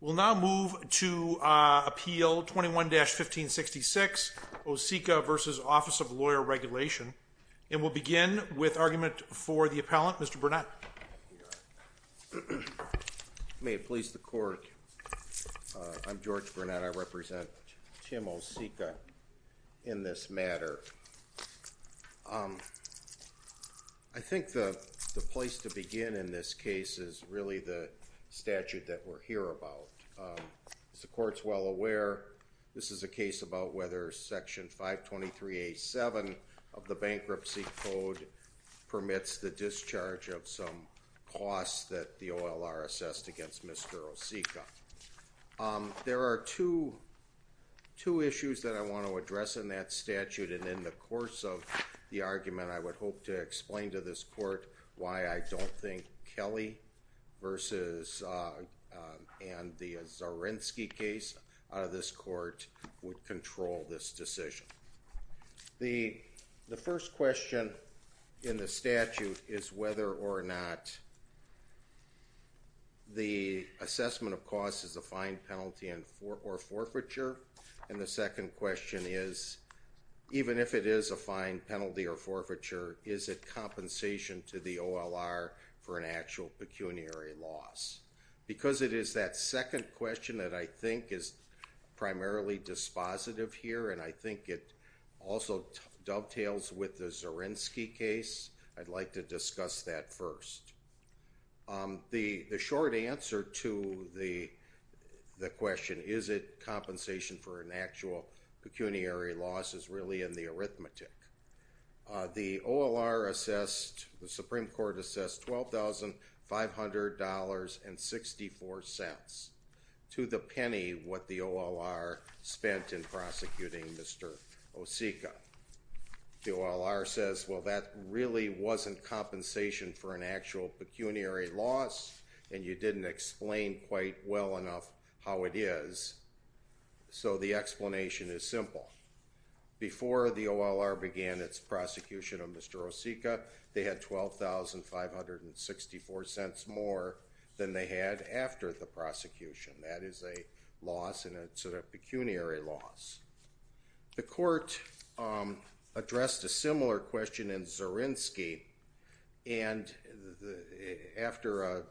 We'll now move to Appeal 21-1566, Osicka v. Office of Lawyer Regulation. And we'll begin with argument for the appellant, Mr. Burnett. May it please the court, I'm George Burnett. I represent Tim Osicka in this matter. I think the place to begin in this case is really the statute that we're here about. As the court's well aware, this is a case about whether Section 523A.7 of the Bankruptcy Code permits the discharge of some costs that the OLR assessed against Mr. Osicka. There are two issues that I want to address in that statute, and in the course of the argument, I would hope to explain to this court why I don't think Kelly and the Zarensky case out of this court would control this decision. The first question in the statute is whether or not the assessment of costs is a fine, penalty, or forfeiture. And the second question is, even if it is a fine, penalty, or forfeiture, is it compensation to the OLR for an actual pecuniary loss? Because it is that second question that I think is primarily dispositive here, and I think it also dovetails with the Zarensky case. I'd like to discuss that first. The short answer to the question, is it compensation for an actual pecuniary loss, is really in the arithmetic. The OLR assessed, the Supreme Court assessed $12,500.64, to the penny what the OLR spent in Osicka. The OLR says, well that really wasn't compensation for an actual pecuniary loss, and you didn't explain quite well enough how it is. So the explanation is simple. Before the OLR began its prosecution of Mr. Osicka, they had $12,500.64 more than they had after the prosecution. That is a loss, and it's a pecuniary loss. The court addressed a similar question in Zarensky, and after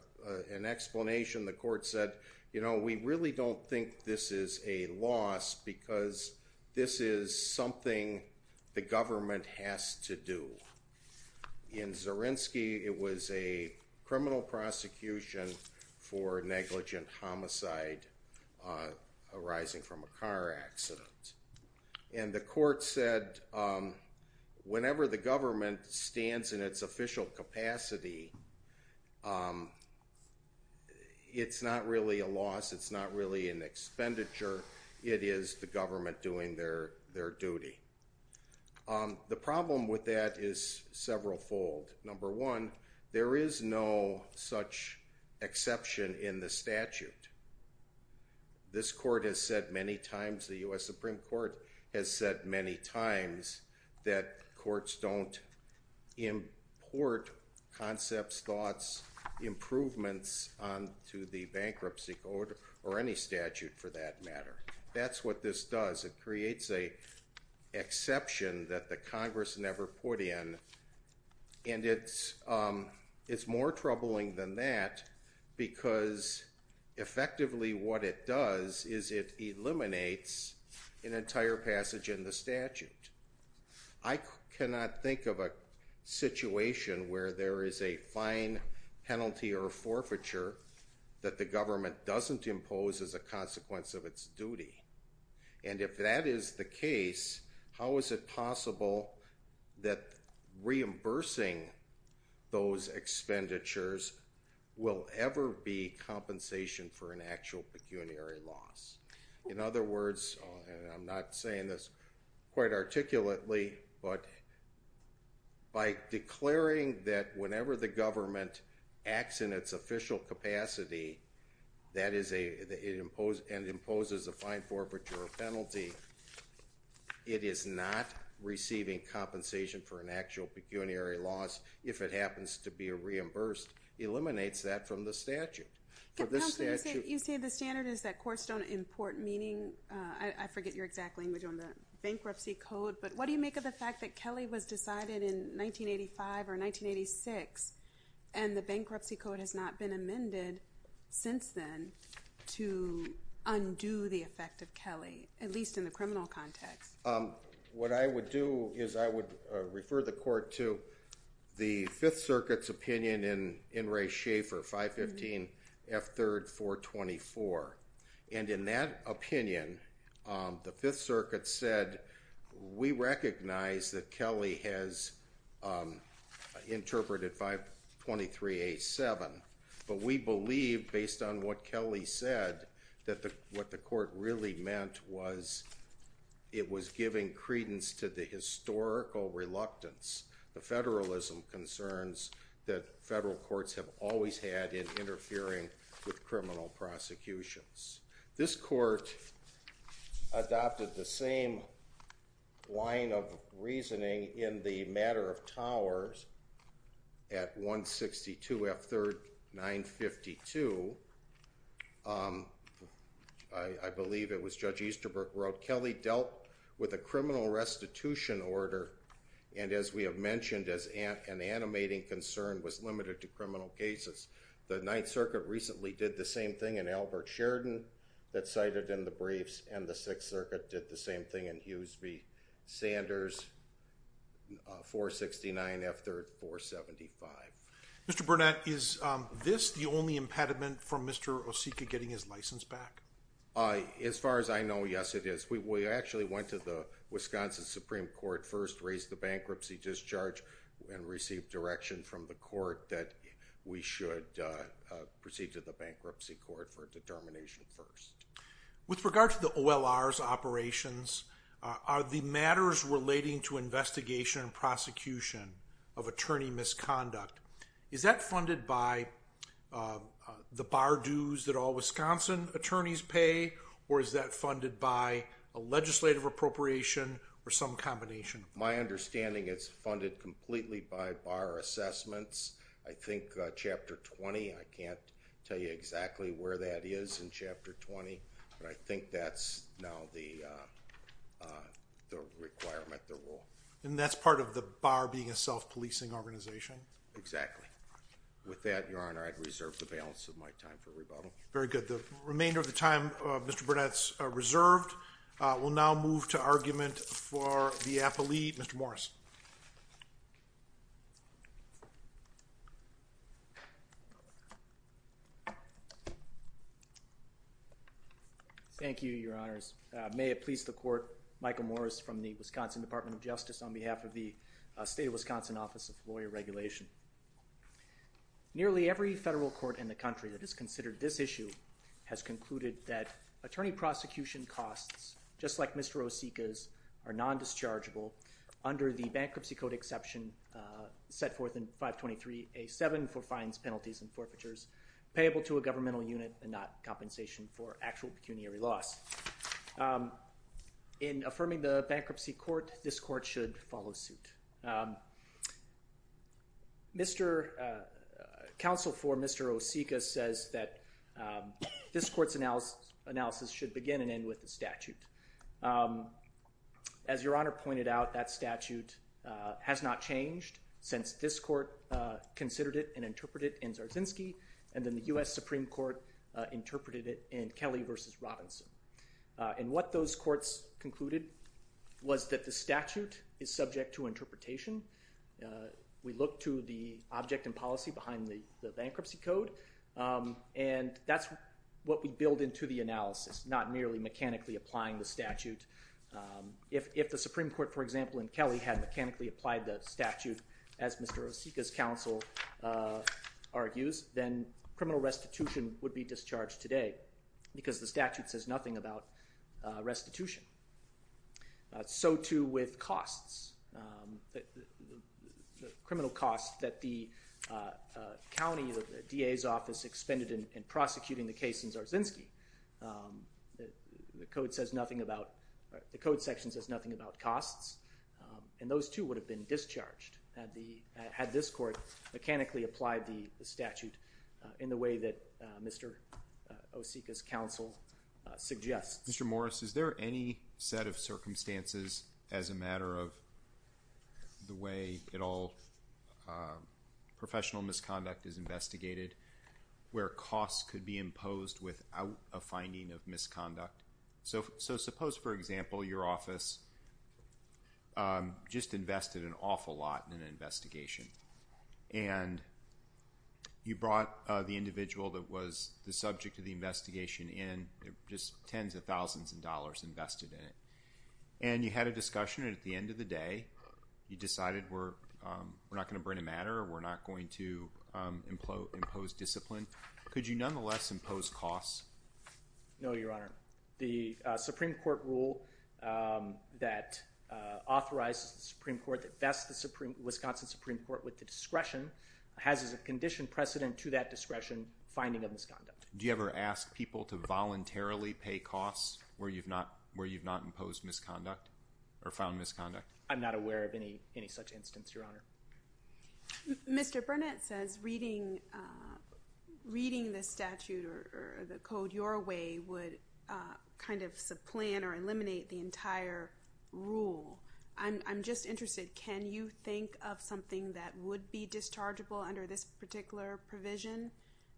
an explanation, the court said, you know, we really don't think this is a loss, because this is something the government has to do. In Zarensky, it was a criminal prosecution for negligent homicide arising from a car accident. And the court said, whenever the government stands in its official capacity, it's not really a loss, it's not really an expenditure, it is the government doing their duty. The problem with that is several fold. Number one, there is no such exception in the statute. This court has said many times, the U.S. Supreme Court has said many times that courts don't import concepts, thoughts, improvements onto the bankruptcy code, or any statute for that exception that the Congress never put in. And it's more troubling than that, because effectively what it does is it eliminates an entire passage in the statute. I cannot think of a situation where there is a fine, penalty, or forfeiture that the government doesn't impose as a consequence of its duty. And if that is the case, how is it possible that reimbursing those expenditures will ever be compensation for an actual pecuniary loss? In other words, and I'm not saying this quite articulately, but by declaring that whenever the government acts in its official capacity and imposes a fine, forfeiture, or penalty, it is not receiving compensation for an actual pecuniary loss if it happens to be reimbursed, eliminates that from the statute. Counselor, you say the standard is that courts don't import, meaning, I forget your exact language on the bankruptcy code, but what do you make of the And the bankruptcy code has not been amended since then to undo the effect of Kelly, at least in the criminal context. What I would do is I would refer the court to the Fifth Circuit's opinion in Ray Schaefer, 515F3-424. And in that opinion, the Fifth Circuit said, we recognize that Kelly has interpreted 523A7, but we believe, based on what Kelly said, that what the court really meant was it was giving credence to the historical reluctance, the federalism concerns that federal courts have always had in interfering with criminal prosecutions. This court adopted the same line of reasoning in the matter of Towers at 162F3-952. I believe it was Judge Easterbrook wrote, Kelly dealt with a criminal restitution order, and as we have mentioned, an animating concern was limited to criminal cases. The Ninth Circuit recently did the same thing in Albert Sheridan that cited in the briefs, and the Sixth Circuit did the same thing in Hughes v. Sanders, 469F3-475. Mr. Burnett, is this the only impediment from Mr. Osika getting his license back? As far as I know, yes, it is. We actually went to the Wisconsin Supreme Court first, raised the bankruptcy discharge, and received direction from the court that we should proceed to the Bankruptcy Court for a determination first. With regard to the OLR's operations, are the matters relating to investigation and prosecution of attorney misconduct, is that funded by the bar dues that all Wisconsin attorneys pay, or is that funded by a legislative appropriation or some combination? My understanding is it's funded completely by bar assessments. I think Chapter 20, I can't tell you exactly where that is in Chapter 20, but I think that's now the requirement, the rule. And that's part of the bar being a self-policing organization? Exactly. With that, Your Honor, I'd reserve the balance of my time for rebuttal. Very good. The remainder of the time, Mr. Burnett's reserved. We'll now move to argument for the appellee, Mr. Morris. Thank you, Your Honors. May it please the Court, Michael Morris from the Wisconsin Department of Justice on behalf of the State of Wisconsin Office of Lawyer Regulation. Nearly every federal court in the country that has considered this issue has concluded that attorney prosecution costs, just like Mr. Osika's, are non-dischargeable under the Bankruptcy Code Exception set forth in 523A7 for fines, penalties, and forfeitures, payable to a governmental unit and not compensation for actual pecuniary loss. In affirming the bankruptcy court, this court should follow suit. Counsel for Mr. Osika says that this court's analysis should begin and end with the statute. As Your Honor pointed out, that statute has not changed since this court considered it and interpreted it in Zarzinski, and then the U.S. Supreme Court interpreted it in Kelly v. Robinson. And what those courts concluded was that the statute is subject to interpretation. We look to the object and policy behind the bankruptcy code, and that's what we build into the analysis, not merely mechanically applying the statute. If the Supreme Court, for example, in Kelly had mechanically applied the statute, as Mr. Osika's counsel argues, then criminal restitution would be discharged today because the statute says nothing about restitution. So too with costs, the criminal costs that the county, the DA's office, expended in prosecuting the case in Zarzinski. The code section says nothing about costs, and those too would have discharged had this court mechanically applied the statute in the way that Mr. Osika's counsel suggests. Mr. Morris, is there any set of circumstances as a matter of the way it all, professional misconduct is investigated, where costs could be imposed without a finding of an awful lot in an investigation? And you brought the individual that was the subject of the investigation in, just tens of thousands of dollars invested in it. And you had a discussion and at the end of the day, you decided we're not going to bring a matter, we're not going to impose discipline. Could you nonetheless impose costs? No, Your Honor. The Supreme Court rule that authorizes the Supreme Court, that vests the Wisconsin Supreme Court with the discretion, has as a condition precedent to that discretion, finding of misconduct. Do you ever ask people to voluntarily pay costs where you've not imposed misconduct or found misconduct? I'm not aware of any such instance, Your Honor. Mr. Burnett says reading the statute or the code your way would kind of supplant or eliminate the entire rule. I'm just interested, can you think of something that would be dischargeable under this particular provision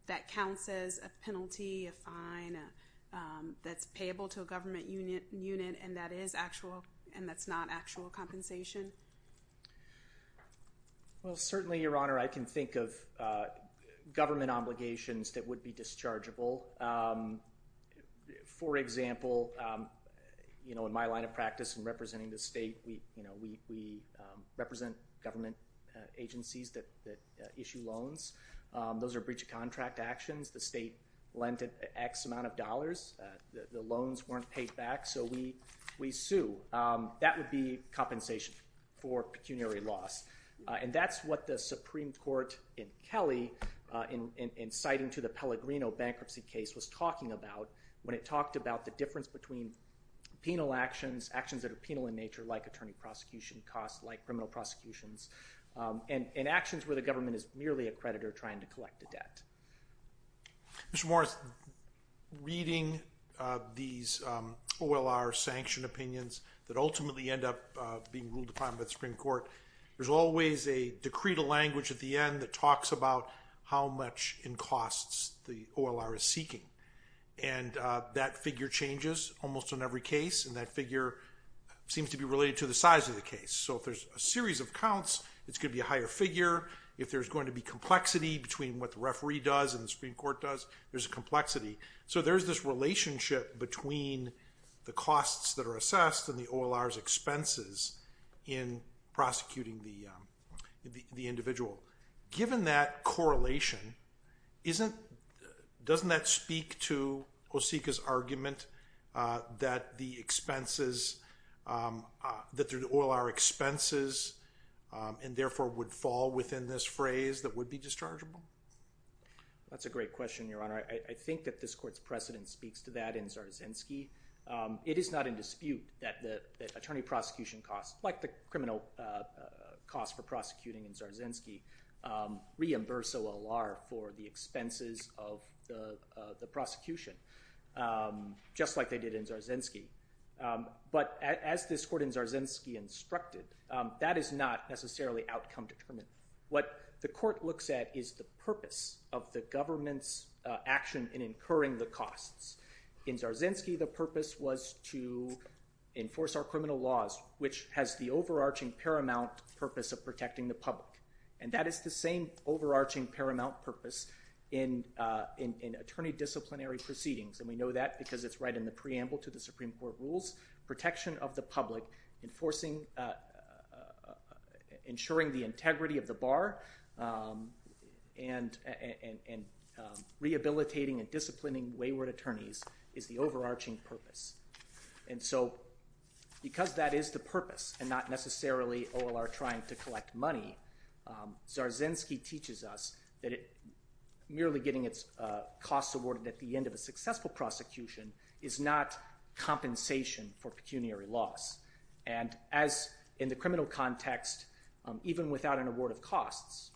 that counts as a penalty, a fine, that's payable to a government unit and that's not actual compensation? Well, certainly, Your Honor, I can think of government obligations that would be dischargeable. For example, in my line of practice in representing the state, we represent government agencies that issue loans. Those are breach of contract actions. The state lent X amount of dollars. The loans weren't paid back, so we sue. That would be compensation for pecuniary loss. And that's what the Supreme Court in Kelly, in citing to the Pellegrino bankruptcy case, was talking about when it talked about the difference between penal actions, actions that are penal in nature, like attorney prosecution costs, like criminal prosecutions, and actions where the government is merely a creditor trying to collect a debt. Mr. Morris, reading these OLR sanction opinions that ultimately end up being ruled upon by the Supreme Court, there's always a decretal language at the end that talks about how much in costs the OLR is seeking. And that figure changes almost in every case, and that figure seems to be related to the size of the case. So if there's a series of counts, it's going to be a higher figure. If there's going to be complexity between what the referee does and the Supreme Court does, there's a complexity. So there's this relationship between the costs that are assessed and the OLR's expenses in prosecuting the individual. Given that correlation, doesn't that speak to Osika's argument that the expenses, that the OLR expenses, and therefore would fall within this phrase that would be dischargeable? That's a great question, Your Honor. I think that this court's precedent speaks to that in Zarzynski. It is not in dispute that the attorney prosecution costs, like the criminal costs for prosecuting in Zarzynski, reimburse OLR for the expenses of the prosecution, just like they did in Zarzynski. But as this court in Zarzynski instructed, that is not necessarily outcome determined. What the court looks at is the purpose of the costs. In Zarzynski, the purpose was to enforce our criminal laws, which has the overarching paramount purpose of protecting the public. And that is the same overarching paramount purpose in attorney disciplinary proceedings. And we know that because it's right in the preamble to the Supreme Court rules, protection of the public, enforcing, ensuring the integrity of the attorneys is the overarching purpose. And so because that is the purpose and not necessarily OLR trying to collect money, Zarzynski teaches us that merely getting its costs awarded at the end of a successful prosecution is not compensation for pecuniary loss. And as in the criminal context, even without an award of costs,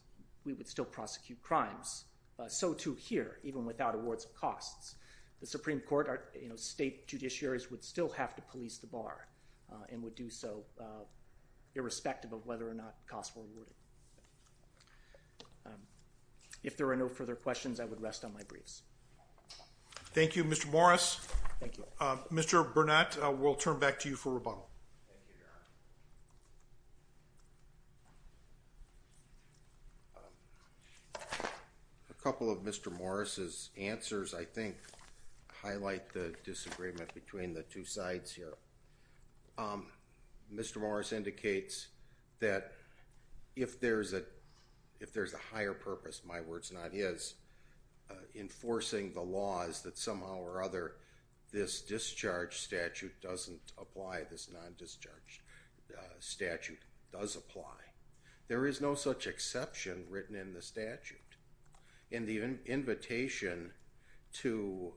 we would still prosecute crimes. So too here, even without awards of costs, the Supreme Court or state judiciaries would still have to police the bar and would do so irrespective of whether or not costs were awarded. If there are no further questions, I would rest on my briefs. Thank you, Mr. Morris. Mr. Burnett, we'll turn back to you for rebuttal. Thank you, Your Honor. A couple of Mr. Morris's answers, I think, highlight the disagreement between the two sides here. Mr. Morris indicates that if there's a higher purpose, my words not his, enforcing the law is that somehow or other this discharge statute doesn't apply. This non-discharge statute does apply. There is no such exception written in the statute. And the invitation to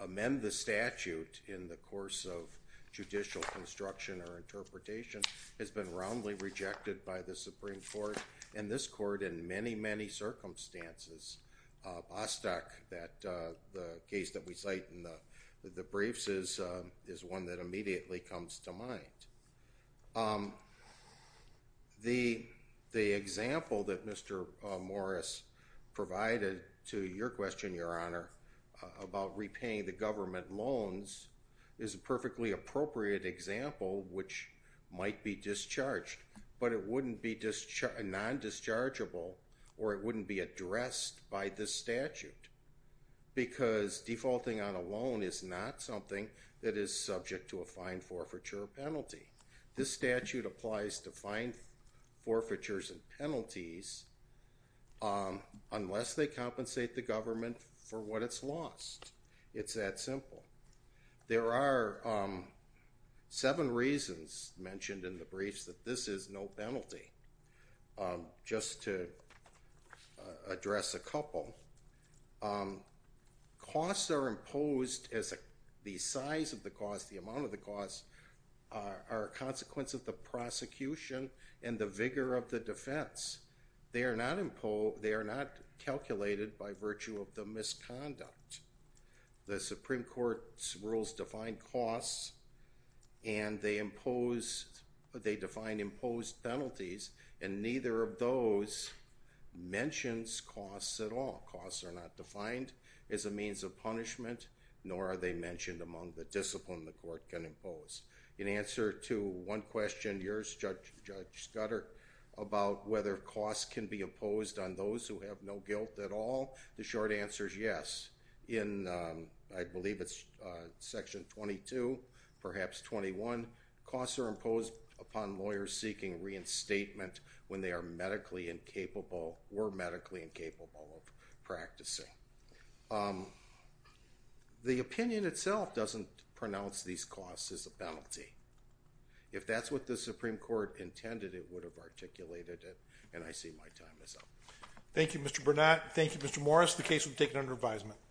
amend the statute in the course of judicial construction or interpretation has been roundly rejected by the Supreme Court and this court in many, many circumstances. Bostock, the case that we cite in the briefs, is one that immediately comes to mind. The example that Mr. Morris provided to your question, Your Honor, about repaying the discharge, but it wouldn't be non-dischargeable or it wouldn't be addressed by this statute because defaulting on a loan is not something that is subject to a fine, forfeiture, or penalty. This statute applies to fine, forfeitures, and penalties unless they compensate the government for what it's lost. It's that simple. There are seven reasons mentioned in the briefs that this is no penalty. Just to address a couple, costs are imposed as the size of the cost, the amount of the cost, are a consequence of the prosecution and the vigor of the defense. They are not calculated by virtue of the misconduct. The Supreme Court's rules define costs and they impose, they define imposed penalties, and neither of those mentions costs at all. Costs are not defined as a means of punishment, nor are they mentioned among the discipline the court can impose. In answer to one question, yours Judge Scudder, about whether costs can be imposed on those who have no guilt at all, the short answer is yes. In, I believe it's section 22, perhaps 21, costs are imposed upon lawyers seeking reinstatement when they are medically incapable or were medically incapable of practicing. The opinion itself doesn't pronounce these costs as a penalty. If that's what the Supreme Court intended, it would have articulated it, and I see my time is up. Thank you, Mr. Burnett. Thank you, Mr. Morris. The case will be taken under advisement.